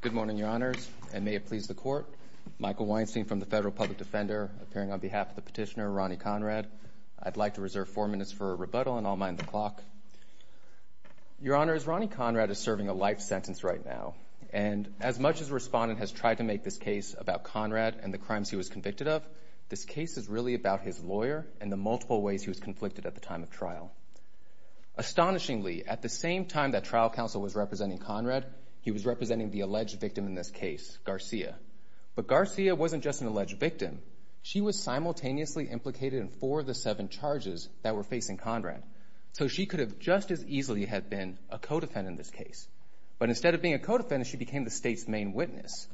Good morning, your honors, and may it please the court. Michael Weinstein from the Federal Public Defender, appearing on behalf of the petitioner, Ronnie Conrad. I'd like to reserve four minutes for a rebuttal, and I'll mind the clock. Your honors, Ronnie Conrad is serving a life sentence right now, and as much as the respondent has tried to make this case about Conrad and the crimes he was convicted of, this case is really about his lawyer and the multiple ways he was conflicted at the time of trial. Astonishingly, at the same time that trial counsel was representing Conrad, he was representing the alleged victim in this case, Garcia. But Garcia wasn't just an alleged victim. She was simultaneously implicated in four of the seven charges that were facing Conrad. So she could have just as easily had been a co-defendant in this case. But instead of being a co-defendant, she became the state's main witness.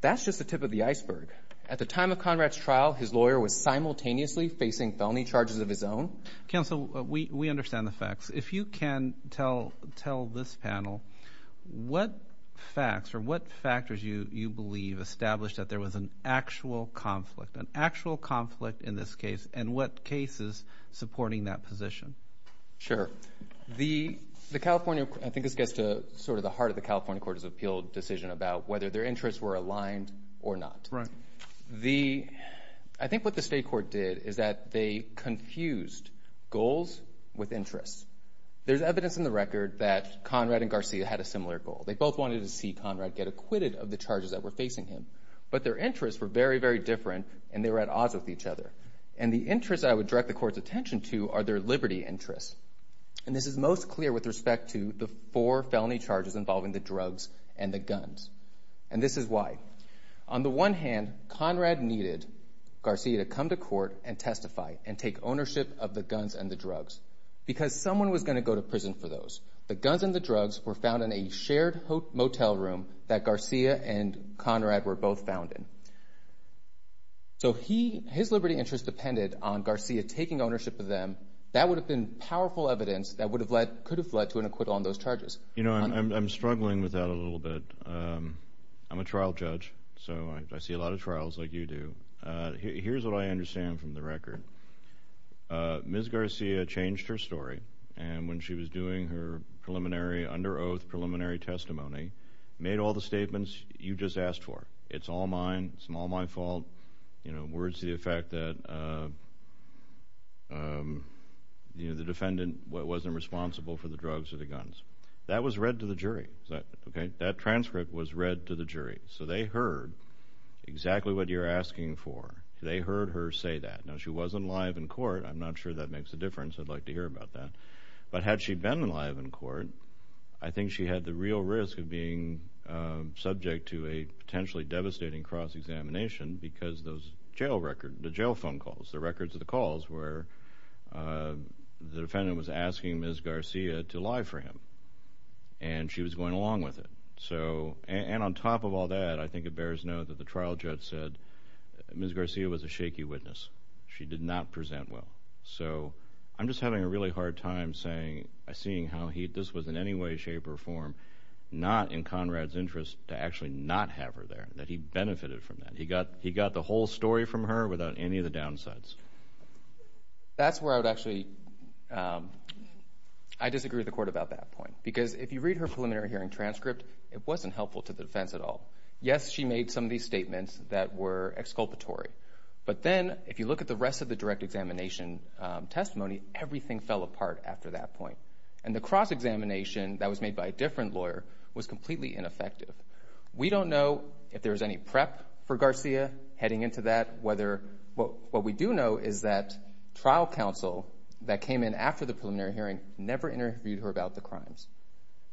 That's just the tip of the iceberg. At the time of felony charges of his own. Counsel, we understand the facts. If you can tell this panel, what facts or what factors you believe established that there was an actual conflict, an actual conflict in this case, and what cases supporting that position? Sure. The California, I think this gets to sort of the heart of the California Court of Appeals decision about whether their interests were aligned or not. Right. The, I think what the state court did is that they confused goals with interests. There's evidence in the record that Conrad and Garcia had a similar goal. They both wanted to see Conrad get acquitted of the charges that were facing him. But their interests were very, very different, and they were at odds with each other. And the interests I would direct the court's attention to are their liberty interests. And this is most clear with respect to the four felony charges involving the drugs and the guns. And this is why. On the one hand, Conrad needed Garcia to come to court and testify and take ownership of the guns and the drugs. Because someone was going to go to prison for those. The guns and the drugs were found in a shared motel room that Garcia and Conrad were both found in. So he, his liberty interests depended on Garcia taking ownership of them. That would have been powerful evidence that would have led, could have led to an acquittal on those charges. You know, I'm struggling with that a little bit. I'm a trial judge, so I see a lot of trials like you do. Here's what I understand from the record. Ms. Garcia changed her story. And when she was doing her preliminary, under oath, preliminary testimony, made all the statements you just asked for. It's all mine. It's all my fault. You know, words to the effect that, you know, the defendant wasn't responsible for the drugs or the guns. That was read to the jury. Okay? That transcript was read to the jury. So they heard exactly what you're asking for. They heard her say that. Now, she wasn't live in court. I'm not sure that makes a difference. I'd like to hear about that. But had she been live in court, I think she had the real risk of being subject to a potentially devastating cross examination because those jail records, the jail phone calls, the records of the calls where the defendant was asking Ms. Garcia to lie for him. And she was going along with it. So, and on top of all that, I think it bears note that the trial judge said Ms. Garcia was a shaky witness. She did not present well. So, I'm just having a really hard time saying, seeing how he, this was in any way, shape, or form, not in Conrad's interest to actually not have her there. That he benefited from that. He got the whole story from her without any of the downsides. That's where I would actually, I disagree with the court about that point. Because if you read her preliminary hearing transcript, it wasn't helpful to the defense at all. Yes, she made some of these statements that were exculpatory. But then, if you look at the rest of the direct examination testimony, everything fell apart after that point. And the cross examination that was made by a different lawyer was completely ineffective. We don't know if there was any prep for Garcia heading into that. Whether, what we do know is that trial counsel that came in after the preliminary hearing never interviewed her about the crimes.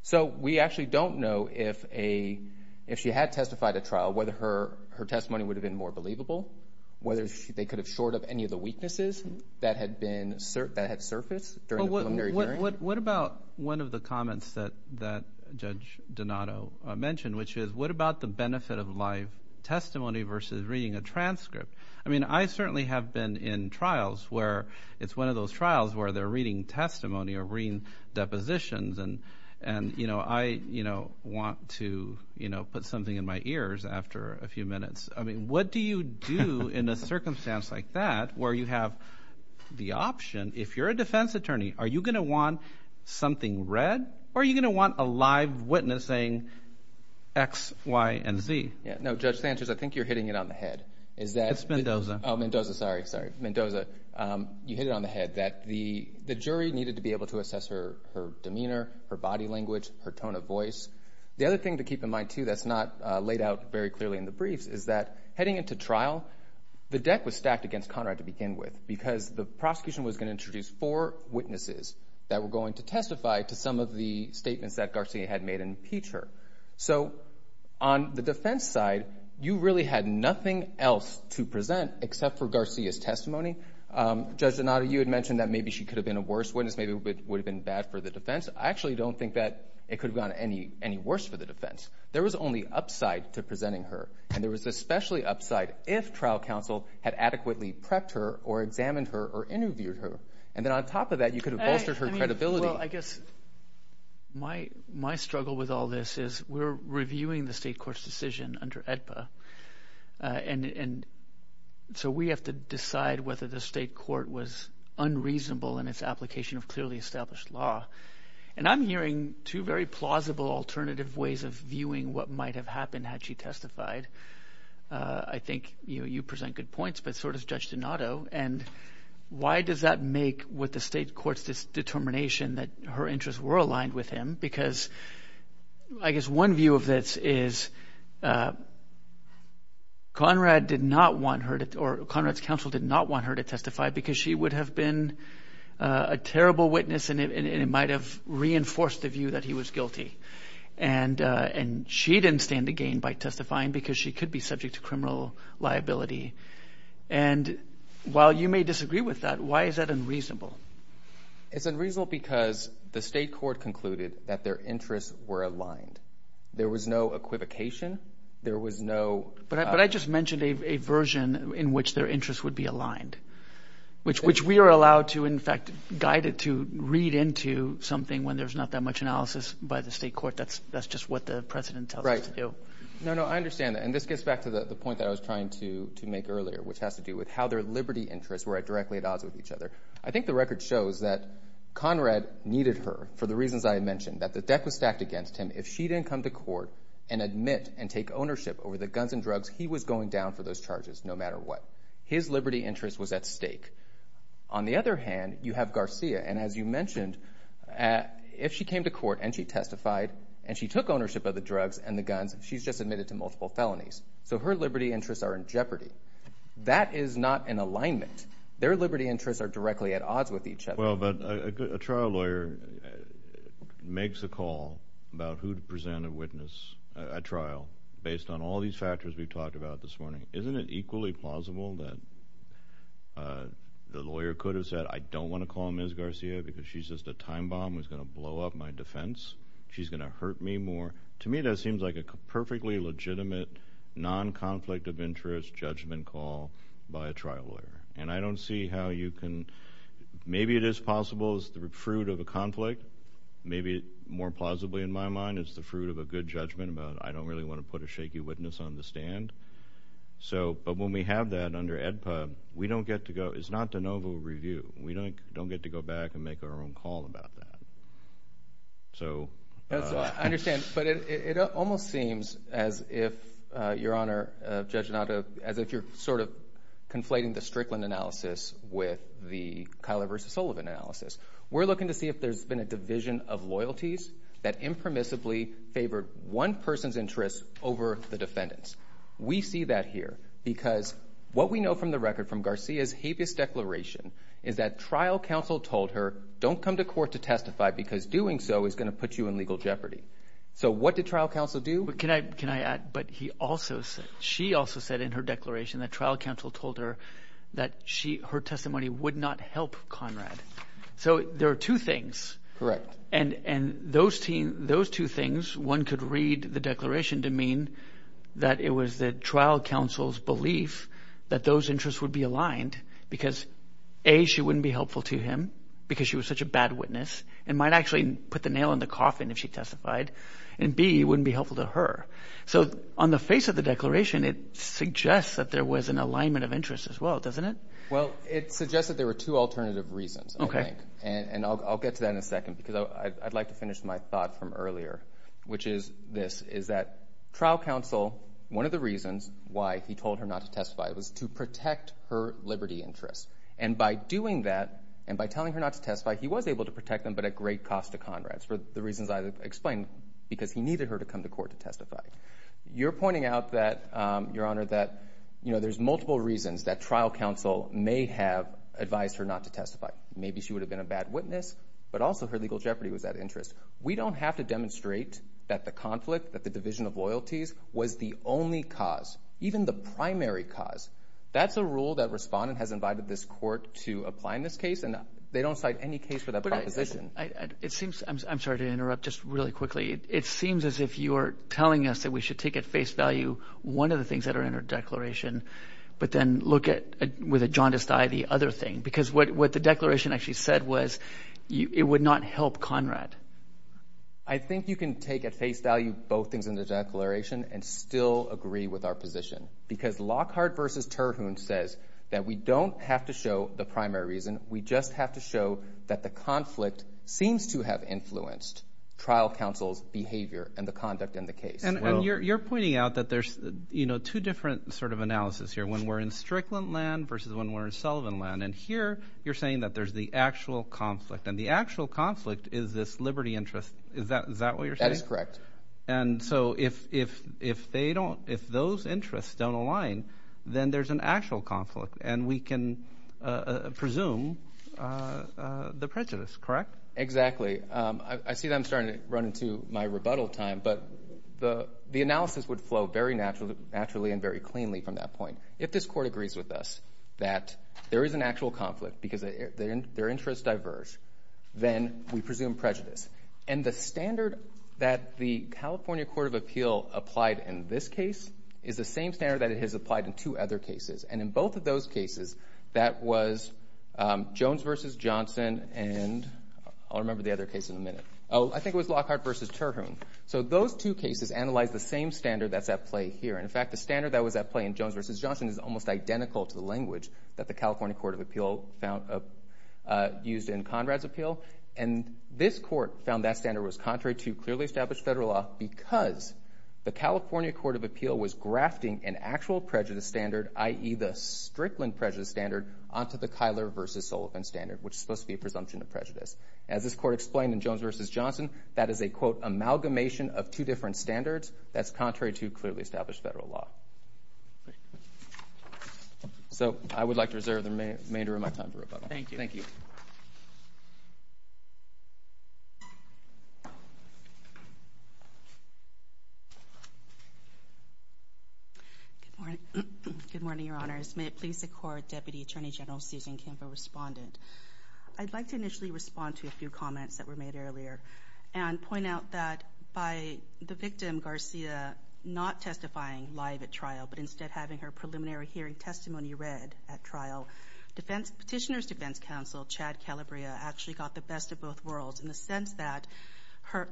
So, we actually don't know if a, if she had testified at trial, whether her testimony would have been more believable. Whether they could have shored up any of the weaknesses that had been, that had surfaced during the preliminary hearing. What about one of the comments that Judge Donato mentioned? Which is, what about the benefit of live testimony versus reading a transcript? I mean, I certainly have been in trials where it's one of those trials where they're reading testimony or reading depositions and you know, I want to put something in my ears after a few minutes. I mean, what do you do in a circumstance like that where you have the option, if you're a defense attorney, are you going to want something read or are you going to want a live witness saying X, Y, and Z? Yeah, no, Judge Sanchez, I think you're hitting it on the head. Is that... It's Mendoza. Oh, Mendoza, sorry, sorry. Mendoza, you hit it on the head that the jury needed to be able to assess her demeanor, her body language, her tone of voice. The other thing to keep in mind too that's not laid out very clearly in the briefs is that heading into trial, the deck was stacked against Conrad to begin with because the prosecution was going to have witnesses that were going to testify to some of the statements that Garcia had made and impeach her. So, on the defense side, you really had nothing else to present except for Garcia's testimony. Judge Donato, you had mentioned that maybe she could have been a worse witness, maybe it would have been bad for the defense. I actually don't think that it could have gone any worse for the defense. There was only upside to presenting her and there was especially upside if trial counsel had adequately prepped her or examined her or interviewed her. And then on top of that, you could have... I mean, well, I guess my struggle with all this is we're reviewing the state court's decision under AEDPA and so we have to decide whether the state court was unreasonable in its application of clearly established law. And I'm hearing two very plausible alternative ways of viewing what might have happened had she testified. I think you present good points but so does Judge Donato. And why does that make with the state court's determination that her interests were aligned with him? Because I guess one view of this is Conrad did not want her to... or Conrad's counsel did not want her to testify because she would have been a terrible witness and it might have reinforced the view that he was guilty. And she didn't stand to gain by testifying because she could be subject to criminal liability and while you may disagree with that, why is that unreasonable? It's unreasonable because the state court concluded that their interests were aligned. There was no equivocation. There was no... But I just mentioned a version in which their interests would be aligned, which we are allowed to, in fact, guide it to read into something when there's not that much analysis by the state court. That's just what the president tells us to do. No, no, I understand that. And this gets back to the point that I was trying to make earlier, which has to do with how their liberty interests were directly at odds with each other. I think the record shows that Conrad needed her for the reasons I had mentioned, that the deck was stacked against him. If she didn't come to court and admit and take ownership over the guns and drugs, he was going down for those charges no matter what. His liberty interest was at stake. On the other hand, you have Garcia and as you mentioned, if she came to court and she testified and she took ownership of the drugs and the guns, she's just admitted to multiple felonies. So her liberty interests are in jeopardy. That is not in alignment. Their liberty interests are directly at odds with each other. Well, but a trial lawyer makes a call about who to present a witness at trial based on all these factors we've talked about this morning. Isn't it equally plausible that the lawyer could have said, I don't want to call Ms. Garcia because she's just a time bomb who's going to hurt me more? To me, that seems like a perfectly legitimate, non-conflict of interest judgment call by a trial lawyer. And I don't see how you can, maybe it is possible it's the fruit of a conflict. Maybe more plausibly in my mind, it's the fruit of a good judgment about I don't really want to put a shaky witness on the stand. So, but when we have that under AEDPA, we don't get to go, it's not de novo review. We don't get to go back and make our own call about that. So, I understand, but it almost seems as if, Your Honor, Judge Notto, as if you're sort of conflating the Strickland analysis with the Kyler v. Sullivan analysis. We're looking to see if there's been a division of loyalties that impermissibly favored one person's interests over the defendant's. We see that here because what we know from the record from Garcia's declaration is that trial counsel told her, don't come to court to testify because doing so is going to put you in legal jeopardy. So, what did trial counsel do? Can I add, but he also said, she also said in her declaration that trial counsel told her that her testimony would not help Conrad. So, there are two things. Correct. And those two things, one could read the declaration to mean that it was the trial counsel's belief that those interests would be aligned because A, she wouldn't be helpful to him because she was such a bad witness and might actually put the nail in the coffin if she testified and B, it wouldn't be helpful to her. So, on the face of the declaration, it suggests that there was an alignment of interests as well, doesn't it? Well, it suggests that there were two alternative reasons, I think, and I'll get to that in a second because I'd like to finish my thought from earlier, which is this, is that trial counsel, one of the reasons why he told her not to testify was to protect her liberty interests. And by doing that and by telling her not to testify, he was able to protect them, but at great cost to Conrad for the reasons I explained because he needed her to come to court to testify. You're pointing out that, Your Honor, that, you know, there's multiple reasons that trial counsel may have advised her not to testify. Maybe she would have been a bad witness, but also her legal jeopardy was that interest. We don't have to demonstrate that the conflict, that the division of loyalties was the only cause, even the primary cause. That's a rule that Respondent has invited this court to apply in this case and they don't cite any case for that proposition. It seems, I'm sorry to interrupt just really quickly, it seems as if you're telling us that we should take at face value one of the things that are in her declaration, but then look at with a jaundiced eye the other thing because what the declaration actually said was it would not help Conrad. I think you can take at face value both things in the declaration and still agree with our position because Lockhart v. Terhune says that we don't have to show the primary reason, we just have to show that the conflict seems to have influenced trial counsel's behavior and the conduct in the case. And you're pointing out that there's, you know, two different sort of analysis here, when we're in Strickland land versus when we're in Sullivan land. And here you're saying that there's the actual conflict and the actual conflict is this liberty interest, is that what you're saying? That is correct. And so if they don't, if those interests don't align, then there's an actual conflict and we can presume the prejudice, correct? Exactly. I see that I'm starting to run into my rebuttal time, but the analysis would flow very naturally and very cleanly from that point. If this court agrees with us that there is an actual conflict because their interests diverge, then we presume prejudice. And the standard that the California Court of Appeal applied in this case is the same standard that it has applied in two other cases. And in both of those cases, that was Jones v. Johnson and I'll remember the other case in a minute. Oh, I think it was Lockhart v. Terhune. So those two cases analyze the same standard that's at play here. In fact, the standard that was at play in Jones v. Johnson is almost identical to the language that the California Court of Appeal found used in Conrad's appeal. And this court found that standard was contrary to clearly established federal law because the California Court of Appeal was grafting an actual prejudice standard, i.e. the Strickland prejudice standard, onto the Kyler v. Sullivan standard, which is supposed to be a presumption of prejudice. As this court explained in Jones v. Johnson, that is a, quote, amalgamation of two different standards that's contrary to clearly established federal law. So I would like to reserve the remainder of my time for rebuttal. Thank you. Good morning, Your Honors. May it please the Court, Deputy Attorney General Susan Kimba, respondent. I'd like to initially respond to your comments that were made earlier and point out that by the victim, Garcia, not testifying live at trial, but instead having her preliminary hearing testimony read at trial, Petitioner's Defense Counsel, Chad Calabria, actually got the best of both worlds in the sense that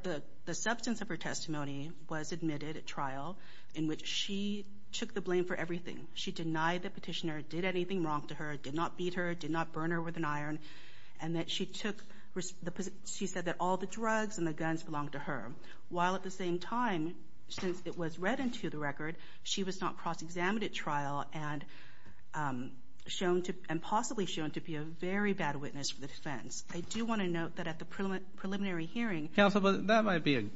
the substance of her testimony was admitted at trial, in which she took the blame for everything. She denied the petitioner did anything wrong to her, did not beat her, did not burn her with an she said that all the drugs and the guns belonged to her, while at the same time, since it was read into the record, she was not cross-examined at trial and shown to, and possibly shown to be a very bad witness for the defense. I do want to note that at the preliminary hearing. Counsel, that might be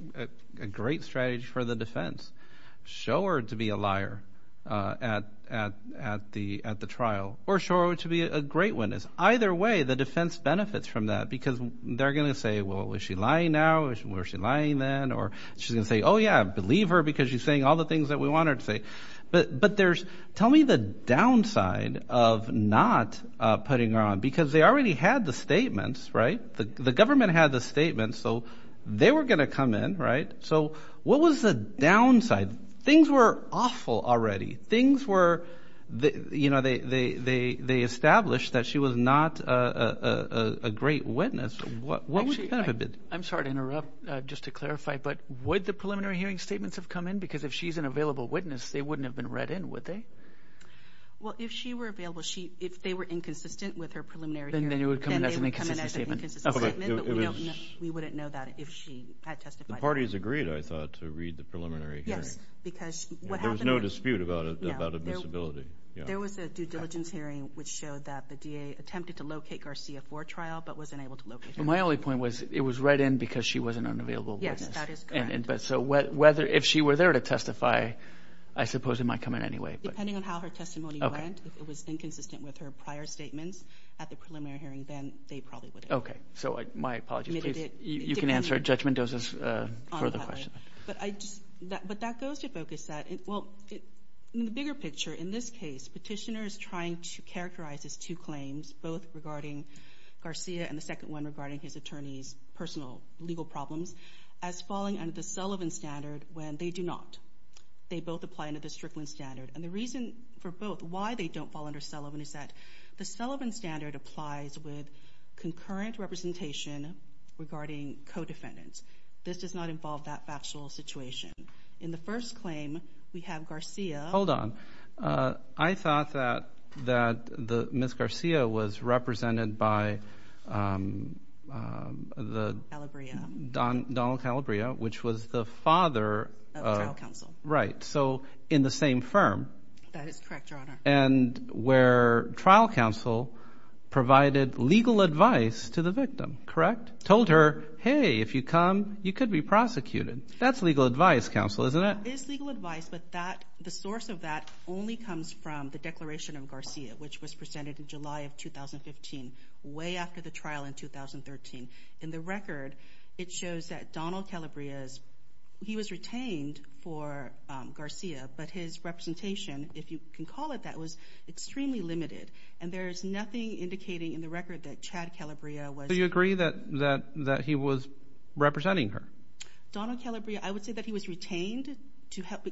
a great strategy for the defense. Show her to be a liar at the trial, or show her to be a great witness. Either way, the defense benefits from that, because they're going to say, well, was she lying now? Or was she lying then? Or she's going to say, oh yeah, believe her, because she's saying all the things that we want her to say. But there's, tell me the downside of not putting her on, because they already had the statements, right? The government had the statements, so they were going to come in, right? So what was the downside? Things were awful already. Things were, you know, they established that she was not a great witness. What was the benefit? I'm sorry to interrupt, just to clarify, but would the preliminary hearing statements have come in? Because if she's an available witness, they wouldn't have been read in, would they? Well, if she were available, if they were inconsistent with her preliminary hearing, then they would come in as an inconsistent statement. We wouldn't know that if she had testified. The parties agreed, I thought, to read the preliminary hearing. Yes, because what happened... There was no dispute about a disability. There was a due diligence hearing, which showed that the DA attempted to locate Garcia for trial, but wasn't able to locate her. But my only point was, it was read in because she was an unavailable witness. Yes, that is correct. But so whether, if she were there to testify, I suppose it might come in anyway. Depending on how her testimony went, if it was inconsistent with her prior statements at the preliminary hearing, then they probably would have... Okay, so my apologies, please. You can answer Judge Mendoza's further questions. But I just, but that goes to focus that, well, in the bigger picture, in this case, Petitioner is trying to characterize his two claims, both regarding Garcia and the second one regarding his attorney's personal legal problems, as falling under the Sullivan standard, when they do not. They both apply under the Strickland standard. And the reason for both, why they don't fall under Sullivan, is that the Sullivan standard applies with concurrent representation regarding co-defendants. This does not involve that factual situation. In the first claim, we have Garcia... Hold on. I thought that Ms. Garcia was represented by the... Calabria. Donald Calabria, which was the father... Of trial counsel. Right. So in the same firm. That is correct, Your Honor. And where trial counsel provided legal advice to the victim, correct? Told her, hey, if you come, you could be prosecuted. That's legal advice, counsel, isn't it? It is legal advice, but the source of that only comes from the Declaration of Garcia, which was presented in July of 2015, way after the trial in 2013. In the record, it shows that Donald Calabria's... He was retained for Garcia, but his representation, if you can in the record, that Chad Calabria was... Do you agree that he was representing her? Donald Calabria, I would say that he was retained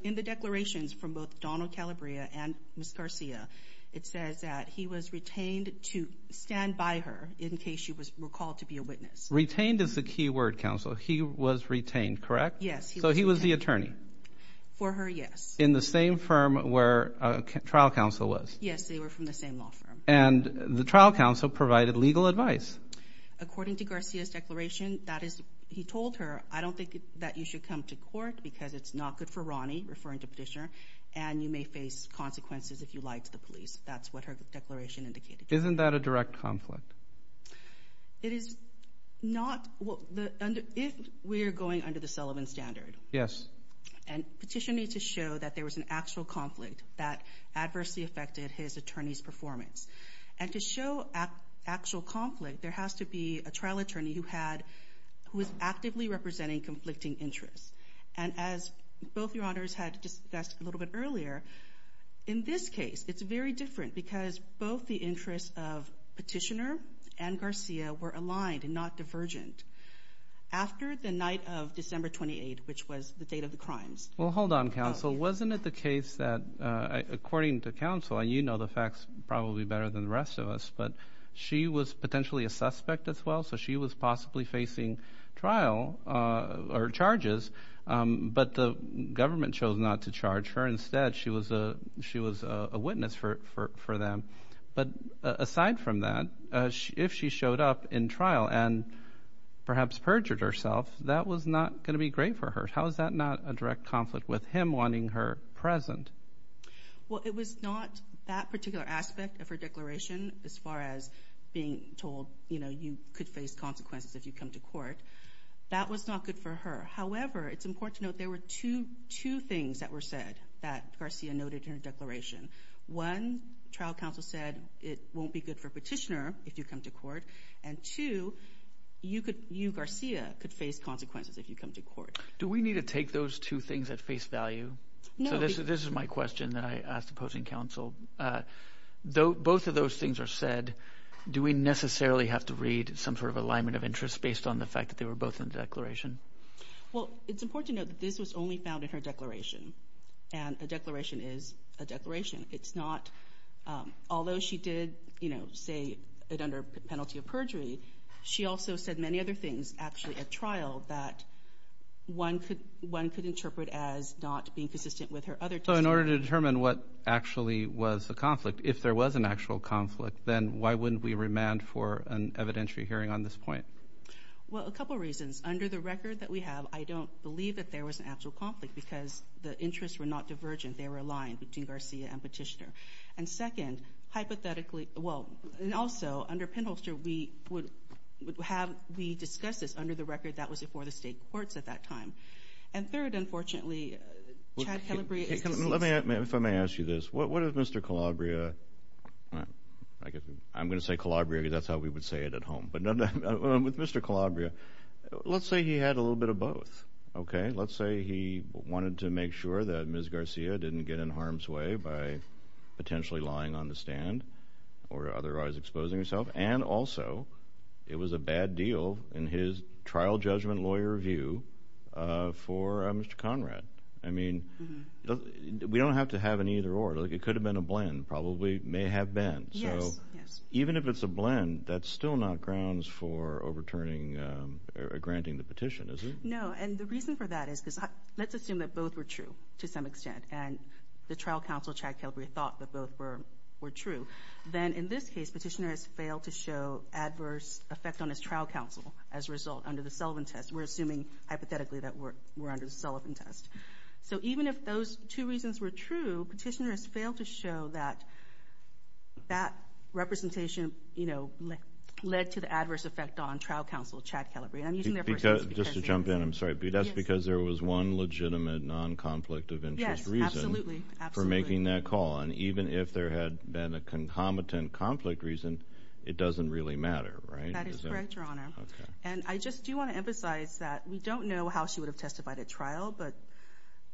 in the declarations from both Donald Calabria and Ms. Garcia. It says that he was retained to stand by her in case she was recalled to be a witness. Retained is the key word, counsel. He was retained, correct? Yes. So he was the attorney? For her, yes. In the same firm where trial counsel was? Yes, they were from the same law firm. And the trial counsel provided legal advice. According to Garcia's declaration, that is, he told her, I don't think that you should come to court because it's not good for Ronnie, referring to Petitioner, and you may face consequences if you lie to the police. That's what her declaration indicated. Isn't that a direct conflict? It is not. If we're going under the Sullivan Standard... Yes. And Petitioner needs to show that there was an actual conflict that adversely affected his actual conflict, there has to be a trial attorney who was actively representing conflicting interests. And as both your honors had discussed a little bit earlier, in this case, it's very different because both the interests of Petitioner and Garcia were aligned and not divergent after the night of December 28, which was the date of the crimes. Well, hold on, counsel. Wasn't it the case that, according to counsel, and you know the facts probably better than the rest of us, but she was potentially a suspect as well, so she was possibly facing trial or charges, but the government chose not to charge her. Instead, she was a witness for them. But aside from that, if she showed up in trial and perhaps perjured herself, that was not going to be great for her. How is that not a direct conflict with him wanting her present? Well, it was not that particular aspect of her declaration as far as being told you could face consequences if you come to court. That was not good for her. However, it's important to note there were two things that were said that Garcia noted in her declaration. One, trial counsel said it won't be good for Petitioner if you come to court, and two, you, Garcia, could face consequences if you come to court. Do we need to take those two things at face value? So this is my question that I asked opposing counsel. Though both of those things are said, do we necessarily have to read some sort of alignment of interest based on the fact that they were both in the declaration? Well, it's important to note that this was only found in her declaration, and a declaration is a declaration. It's not, although she did, you know, say it under penalty of perjury, she also said many other things actually at trial that one could interpret as not being consistent with her So in order to determine what actually was the conflict, if there was an actual conflict, then why wouldn't we remand for an evidentiary hearing on this point? Well, a couple reasons. Under the record that we have, I don't believe that there was an actual conflict because the interests were not divergent. They were aligned between Garcia and Petitioner. And second, hypothetically, well, and also under Penholster, we would have, we discussed this under the record that was before the state courts at that time. And third, unfortunately, Chad Let me, if I may ask you this, what if Mr. Calabria, I guess I'm going to say Calabria, that's how we would say it at home, but with Mr. Calabria, let's say he had a little bit of both. Okay, let's say he wanted to make sure that Ms. Garcia didn't get in harm's way by potentially lying on the stand or otherwise exposing herself. And also, it was a bad deal in his We don't have to have an either or. Like, it could have been a blend. Probably may have been. Yes, yes. Even if it's a blend, that's still not grounds for overturning or granting the petition, is it? No, and the reason for that is because let's assume that both were true to some extent, and the trial counsel, Chad Calabria, thought that both were true. Then in this case, Petitioner has failed to show adverse effect on his trial counsel as a result under the Sullivan test. We're those two reasons were true, Petitioner has failed to show that that representation, you know, led to the adverse effect on trial counsel Chad Calabria. Just to jump in, I'm sorry, but that's because there was one legitimate non-conflict of interest reason for making that call. And even if there had been a concomitant conflict reason, it doesn't really matter, right? That is correct, Your Honor. And I just do want to emphasize that we don't know how she would have testified at trial, but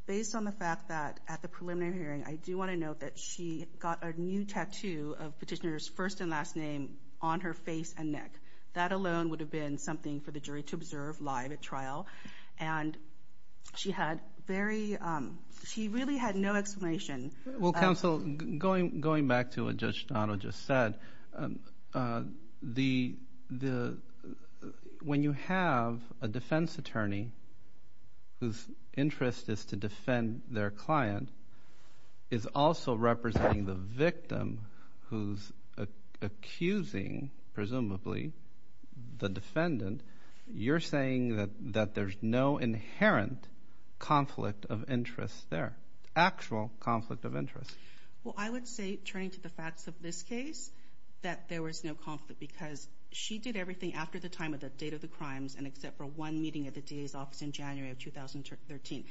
based on the fact that at the preliminary hearing, I do want to note that she got a new tattoo of Petitioner's first and last name on her face and neck. That alone would have been something for the jury to observe live at trial, and she had very, she really had no explanation. Well, counsel, going back to what Judge Dono just said, when you have a defense attorney whose interest is to defend their client, is also representing the victim who's accusing, presumably, the defendant, you're saying that there's no inherent conflict of interest there, actual conflict of interest. Well, I would say, turning to the facts of this case, that there was no conflict because she did everything after the time of the date of the crimes, and except for one meeting at the DA's office in January of 2013,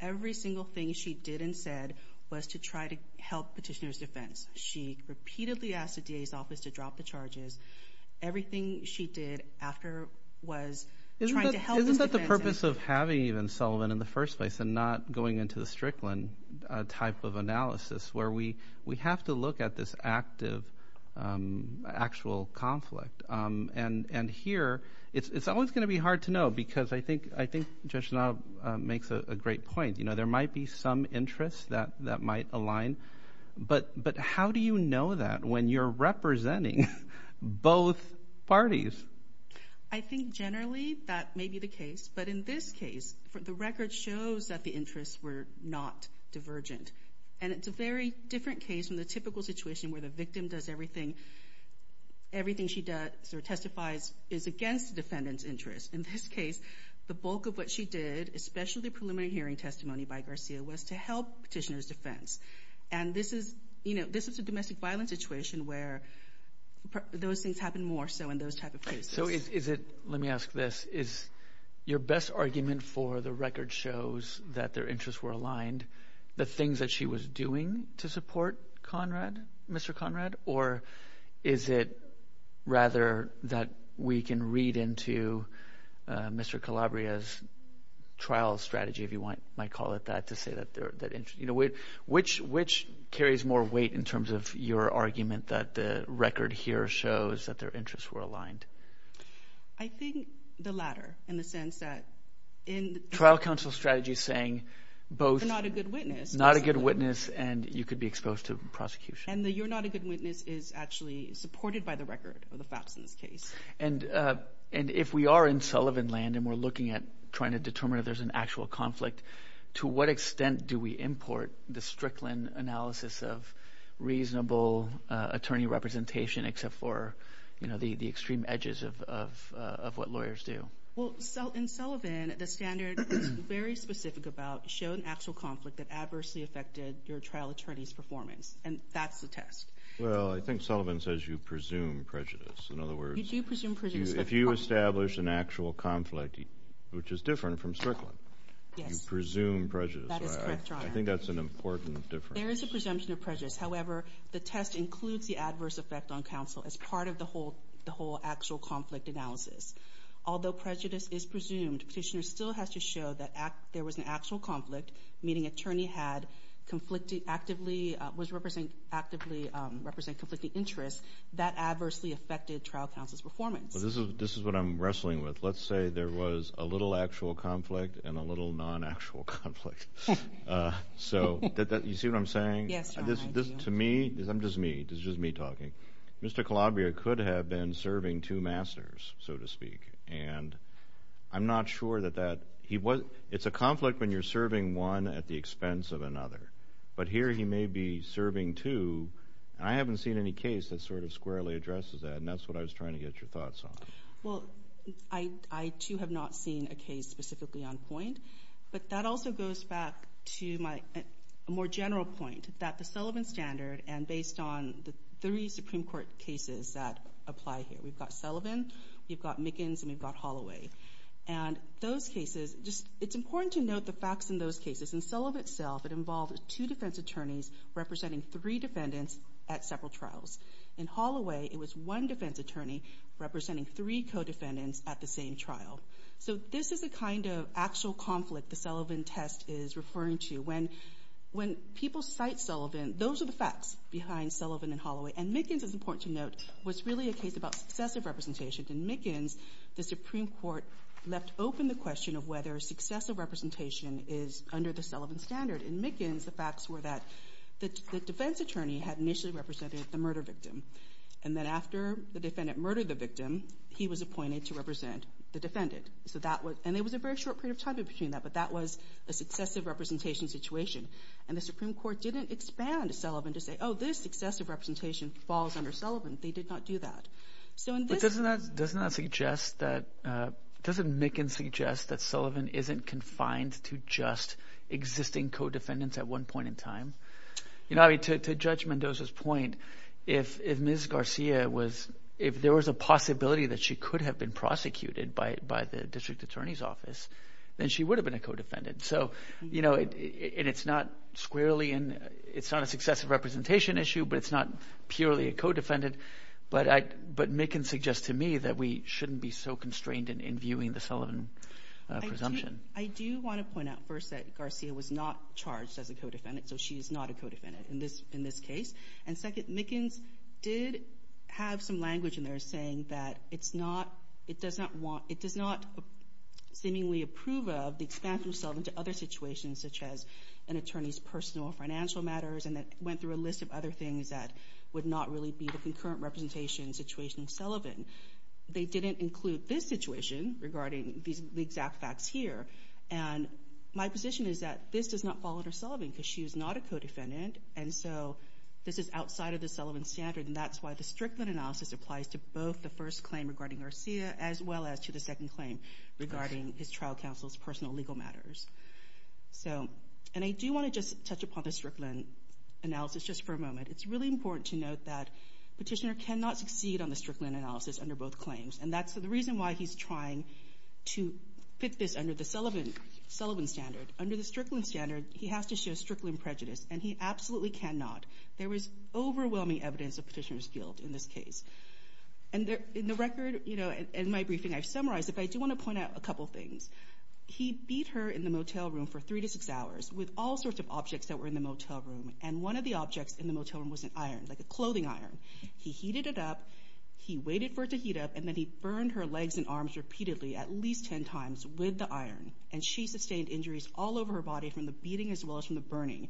every single thing she did and said was to try to help Petitioner's defense. She repeatedly asked the DA's office to drop the charges. Everything she did after was trying to help his defense. Isn't that the purpose of having even Sullivan in the first place and not going into the Strickland type of analysis, where we have to look at this active, actual conflict? And here, it's always going to be hard to know, because I think Judge Dono makes a great point. You know, there might be some interests that might align, but how do you know that when you're representing both parties? I think generally that may be the case, but in this case, the record shows that the interests were not divergent. And it's a very different case from the typical situation where the victim does everything, everything she does or testifies is against the defendant's interest. In this case, the bulk of what she did, especially preliminary hearing testimony by Garcia, was to help Petitioner's defense. And this is, you know, this is a domestic violence situation where those things happen more so in those type of cases. Let me ask this. Is your best argument for the record shows that their interests were aligned, the things that she was doing to support Mr. Conrad? Or is it rather that we can read into Mr. Calabria's trial strategy, if you might call it that, to say that, you know, which carries more weight in terms of your argument that the record here shows that their interests were aligned? I think the latter, in the sense that in... Trial counsel strategy saying both... You're not a good witness. Not a good witness, and you could be exposed to prosecution. And the you're not a good witness is actually supported by the record of the FAPS in this case. And if we are in Sullivan land and we're looking at trying to determine if there's an actual conflict, to what extent do we import the Strickland analysis of reasonable attorney representation except for, you know, the extreme edges of what lawyers do? Well, in Sullivan, the standard is very specific about showing actual conflict that adversely affected your trial attorney's performance. And that's the test. Well, I think Sullivan says you presume prejudice. In other words... You do presume prejudice. If you establish an actual conflict, which is different from Strickland, you presume prejudice. That is correct, Your Honor. I think that's an important difference. There is a presumption of prejudice. However, the test includes the adverse effect on counsel as part of the whole actual conflict analysis. Although prejudice is presumed, petitioner still has to show that there was an actual conflict, meaning attorney had conflicted actively... Was representing... Actively represented conflicting interests that adversely affected trial counsel's performance. Well, this is what I'm wrestling with. Let's say there was a little actual conflict and a little non-actual conflict. So, you see what I'm saying? Yes, Your Honor. To me, this is just me talking. Mr. Calabria could have been serving two masters, so to speak. And I'm not sure that that... It's a conflict when you're serving one at the expense of another. But here he may be serving two. And I haven't seen any case that sort of squarely addresses that. And that's what I was trying to get your thoughts on. Well, I too have not seen a case specifically on point. But that also goes back to my more general point that the Sullivan Standard and based on the three Supreme Court cases that apply here. We've got Sullivan, we've got Mickens, and we've got Holloway. And those cases, just... It's important to note the facts in those cases. In Sullivan itself, it involved two defense attorneys representing three defendants at several trials. In Holloway, it was one defense attorney representing three co-defendants at the same trial. So this is the kind of actual conflict the Sullivan test is referring to. When people cite Sullivan, those are the facts behind Sullivan and Holloway. And Mickens, it's important to note, was really a case about successive representation. In Mickens, the Supreme Court left open the question of whether successive representation is under the Sullivan Standard. In Mickens, the facts were that the defense attorney had initially represented the murder victim. And then after the defendant murdered the victim, he was appointed to represent the defendant. So that was... And there was a very short period of time in between that, but that was a successive representation situation. And the Supreme Court didn't expand Sullivan to say, oh, this successive representation falls under Sullivan. They did not do that. But doesn't that suggest that... Doesn't Mickens suggest that Sullivan isn't confined to just existing co-defendants at one point in time? You know, I mean, to Judge Mendoza's point, if Ms. Garcia was... If there was a possibility that she could have been prosecuted by the district attorney's office, then she would have been a co-defendant. So, you know, and it's not squarely in... It's not a successive representation issue, but it's not purely a co-defendant. But Mickens suggests to me that we shouldn't be so constrained in viewing the Sullivan presumption. I do want to point out first that Garcia was not charged as a co-defendant. So she is not a co-defendant in this case. And second, Mickens did have some language in there saying that it's not... It does not want... It does not seemingly approve of the expansion of Sullivan to other situations, such as an attorney's personal or financial matters, and that went through a list of other things that would not really be the concurrent representation situation of Sullivan. They didn't include this situation regarding the exact facts here. And my position is that this does not fall under Sullivan because she is not a co-defendant. And so this is outside of the Sullivan standard, and that's why the Strickland analysis applies to both the first claim regarding Garcia as well as to the second claim regarding his trial counsel's personal legal matters. So, and I do want to just touch upon the Strickland analysis just for a moment. It's really important to note that Petitioner cannot succeed on the Strickland analysis under both claims. And that's the reason why he's trying to fit this under the Sullivan standard. Under the Strickland standard, he has to show Strickland prejudice, and he absolutely cannot. There was overwhelming evidence of Petitioner's guilt in this case. And in the record, in my briefing, I've summarized it, but I do want to point out a couple things. He beat her in the motel room for three to six hours with all sorts of objects that were in the motel room, and one of the objects in the motel room was an iron, like a clothing iron. He heated it up, he waited for it to heat up, and then he burned her legs and arms repeatedly, at least 10 times, with the iron. And she sustained injuries all over her body from the beating as well as from the burning.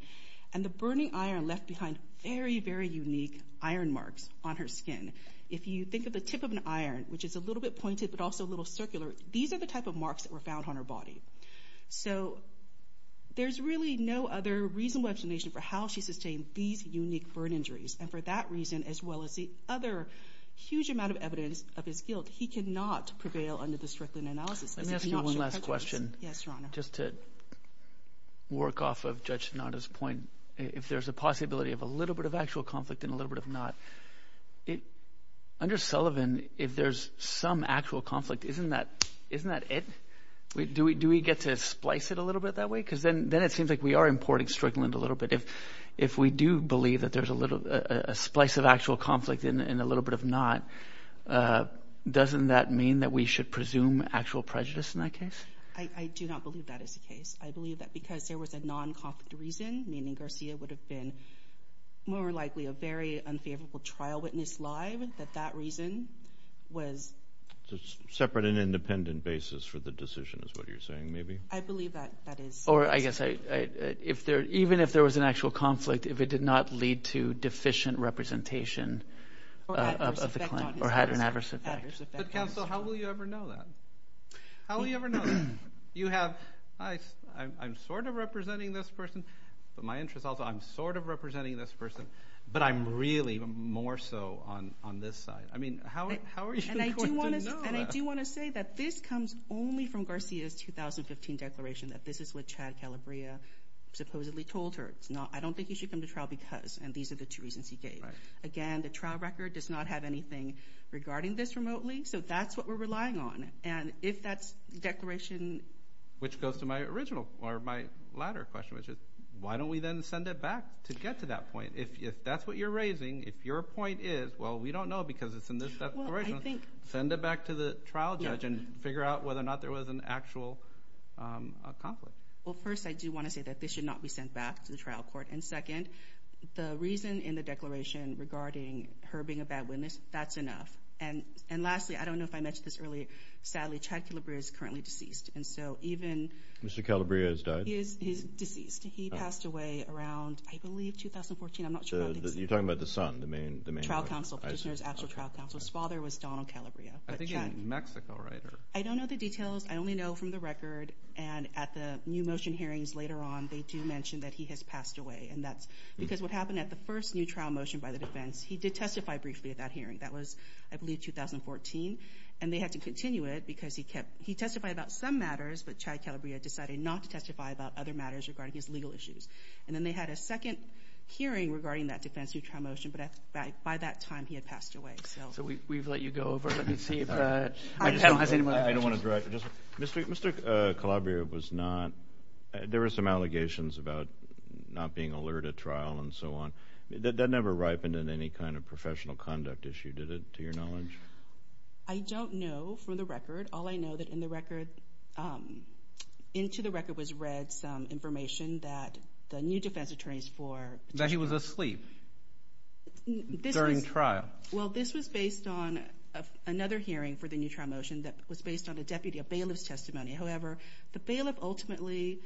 And the burning iron left behind very, very unique iron marks on her skin. If you think of the tip of an iron, which is a little bit pointed but also a little circular, these are the type of marks that were found on her body. So, there's really no other reasonable explanation for how she sustained these unique burn injuries. And for that reason, as well as the other huge amount of evidence of his guilt, he cannot prevail under the Strickland analysis. Let me ask you one last question. Yes, Your Honor. Just to work off of Judge Sinatra's point, if there's a possibility of a little bit of actual conflict and a little bit of not. Under Sullivan, if there's some actual conflict, isn't that it? Do we get to splice it a little bit that way? Because then it seems like we are importing Strickland a little bit. If we do believe that there's a splice of actual conflict and a little bit of not, doesn't that mean that we should presume actual prejudice in that case? I do not believe that is the case. I believe that because there was a non-conflict reason, meaning Garcia would have been more likely a very unfavorable trial witness live, that that reason was... It's a separate and independent basis for the decision is what you're saying, maybe? I believe that that is. I guess, even if there was an actual conflict, if it did not lead to deficient representation of the claim or had an adverse effect. But counsel, how will you ever know that? How will you ever know that? You have, I'm sort of representing this person, but my interest also, I'm sort of representing this person, but I'm really more so on this side. I mean, how are you going to know that? And I do want to say that this comes only from Garcia's 2015 declaration, that this is what Chad Calabria supposedly told her. It's not, I don't think he should come to trial because, and these are the two reasons he gave. Again, the trial record does not have anything regarding this remotely, so that's what we're relying on. And if that's the declaration... Which goes to my original, or my latter question, which is, why don't we then send it back to get to that point? If that's what you're raising, if your point is, well, we don't know because it's in this declaration, send it back to the trial judge and figure out whether or not there was an actual conflict. Well, first, I do want to say that this should not be sent back to the trial court. And second, the reason in the declaration regarding her being a bad witness, that's enough. And lastly, I don't know if I mentioned this earlier, sadly, Chad Calabria is currently deceased. And so even... Mr. Calabria has died? He's deceased. He passed away around, I believe, 2014. I'm not sure. You're talking about the son, the main... Trial counsel, petitioner's actual trial counsel. His father was Donald Calabria. I think he's a New Mexico writer. I don't know the details. I only know from the record and at the new motion hearings later on, they do mention that he has passed away. And that's because what happened at the first new trial motion by the defense, he did testify briefly at that hearing. That was, I believe, 2014. And they had to continue it because he testified about some matters, but Chad Calabria decided not to testify about other matters regarding his legal issues. And then they had a second hearing regarding that defense, new trial motion, but by that time, he had passed away. So we've let you go over. Let me see if... I just don't have any more... Mr. Calabria was not... There were some allegations about not being alert at trial and so on. That never ripened in any kind of professional conduct issue, did it, to your knowledge? I don't know from the record. All I know that in the record, into the record was read some information that the new defense attorneys for... That he was asleep during trial. Well, this was based on another hearing for the new trial motion that was based on a deputy of bailiff's testimony. However, the bailiff ultimately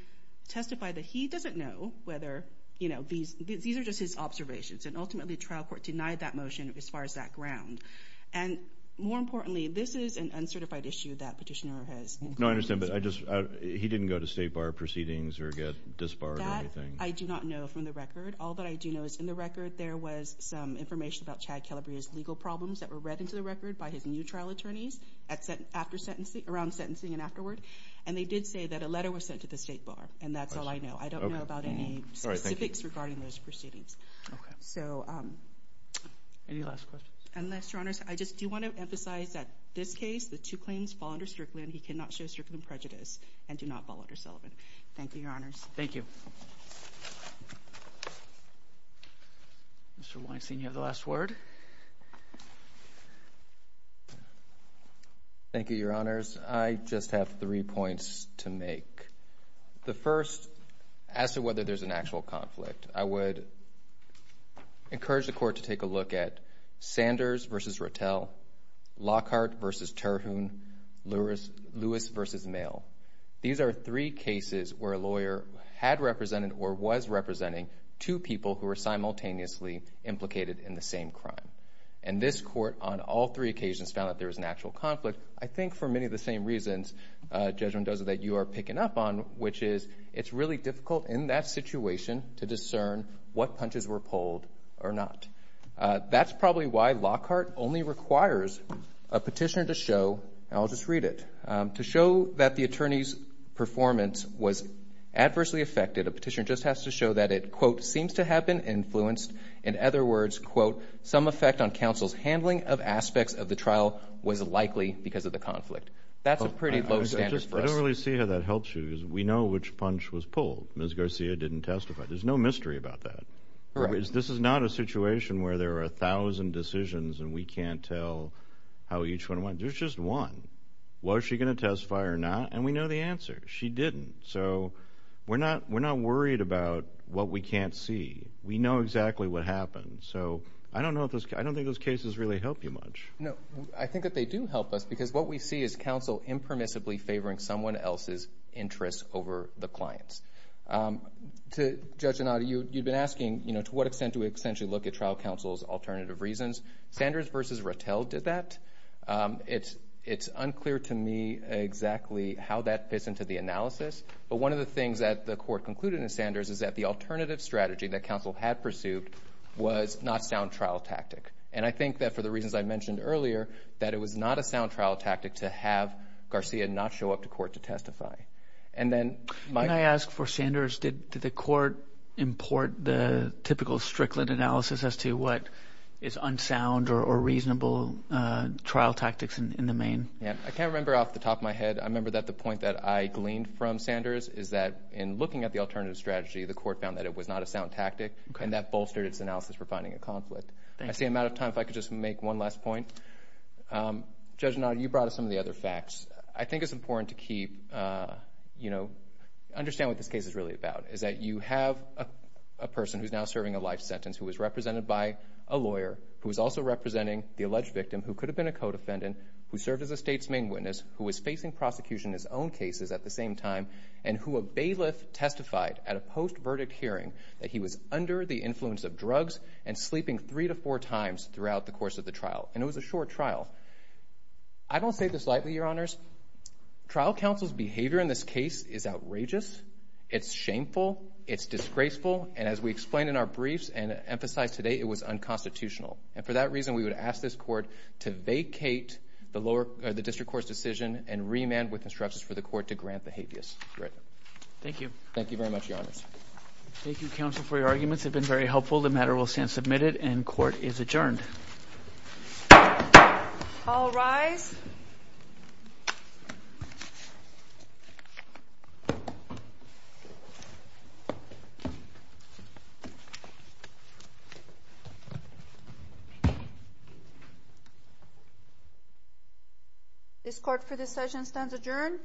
testified that he doesn't know whether these are just his observations. And ultimately, trial court denied that motion as far as that ground. And more importantly, this is an uncertified issue that petitioner has... No, I understand, but he didn't go to state bar proceedings or get disbarred or anything. I do not know from the record. All that I do know is in the record, there was some information about Chad Calabria's legal problems that were read into the record by his new trial attorneys around sentencing and afterward. And they did say that a letter was sent to the state bar, and that's all I know. I don't know about any specifics regarding those proceedings. So... Any last questions? Unless, your honors, I just do want to emphasize that this case, the two claims fall under Strickland. He cannot show Strickland prejudice and do not fall under Sullivan. Thank you, your honors. Thank you. Mr. Weinstein, you have the last word. Thank you, your honors. I just have three points to make. The first, as to whether there's an actual conflict, I would encourage the court to take a look at Sanders v. Rattel, Lockhart v. Terhune, Lewis v. Mail. These are three cases where a lawyer had represented or was representing two people who were simultaneously implicated in the same crime. And this court, on all three occasions, found that there was an actual conflict. I think for many of the same reasons, Judge Mendoza, that you are picking up on, which is it's really difficult in that situation to discern what punches were pulled or not. That's probably why Lockhart only requires a petitioner to show, and I'll just read it, to show that the attorney's performance was adversely affected. A petitioner just has to show that it, quote, seems to have been influenced. In other words, quote, some effect on counsel's handling of aspects of the trial was likely because of the conflict. That's a pretty low standard for us. I don't really see how that helps you, because we know which punch was pulled. Ms. Garcia didn't testify. There's no mystery about that. This is not a situation where there are a thousand decisions and we can't tell how each one went. There's just one. Was she going to testify or not? And we know the answer. She didn't. So, we're not worried about what we can't see. We know exactly what happened. So, I don't think those cases really help you much. No. I think that they do help us, because what we see is counsel impermissibly favoring someone else's interests over the client's. To Judge Donato, you've been asking, you know, to what extent do we essentially look at trial counsel's alternative reasons? Sanders versus Rattel did that. It's unclear to me exactly how that fits into the analysis. But one of the things that the court concluded in Sanders is that the alternative strategy that counsel had pursued was not sound trial tactic. And I think that for the reasons I mentioned earlier, that it was not a sound trial tactic to have Garcia not show up to court to testify. And then, Mike? Can I ask for Sanders, did the court import the typical Strickland analysis as to what is unsound or reasonable trial tactics in the main? Yeah. I can't remember off the top of my head. I remember that the point that I gleaned from Sanders is that in looking at the alternative strategy, the court found that it was not a sound tactic, and that bolstered its analysis for finding a conflict. I see I'm out of time. If I could just make one last point. Judge Donato, you brought us some of the other facts. I think it's important to keep, you know, understand what this case is really about, is that you have a person who's now serving a life sentence, who was represented by a who is also representing the alleged victim, who could have been a co-defendant, who served as a state's main witness, who was facing prosecution in his own cases at the same time, and who a bailiff testified at a post-verdict hearing that he was under the influence of drugs and sleeping three to four times throughout the course of the trial. And it was a short trial. I don't say this lightly, Your Honors. Trial counsel's behavior in this case is outrageous. It's shameful. It's disgraceful. And as we explained in our briefs and emphasized today, it was unconstitutional. And for that reason, we would ask this court to vacate the district court's decision and remand with instructions for the court to grant the habeas grant. Thank you. Thank you very much, Your Honors. Thank you, counsel, for your arguments. They've been very helpful. The matter will stand submitted and court is adjourned. All rise. This court for this session stands adjourned.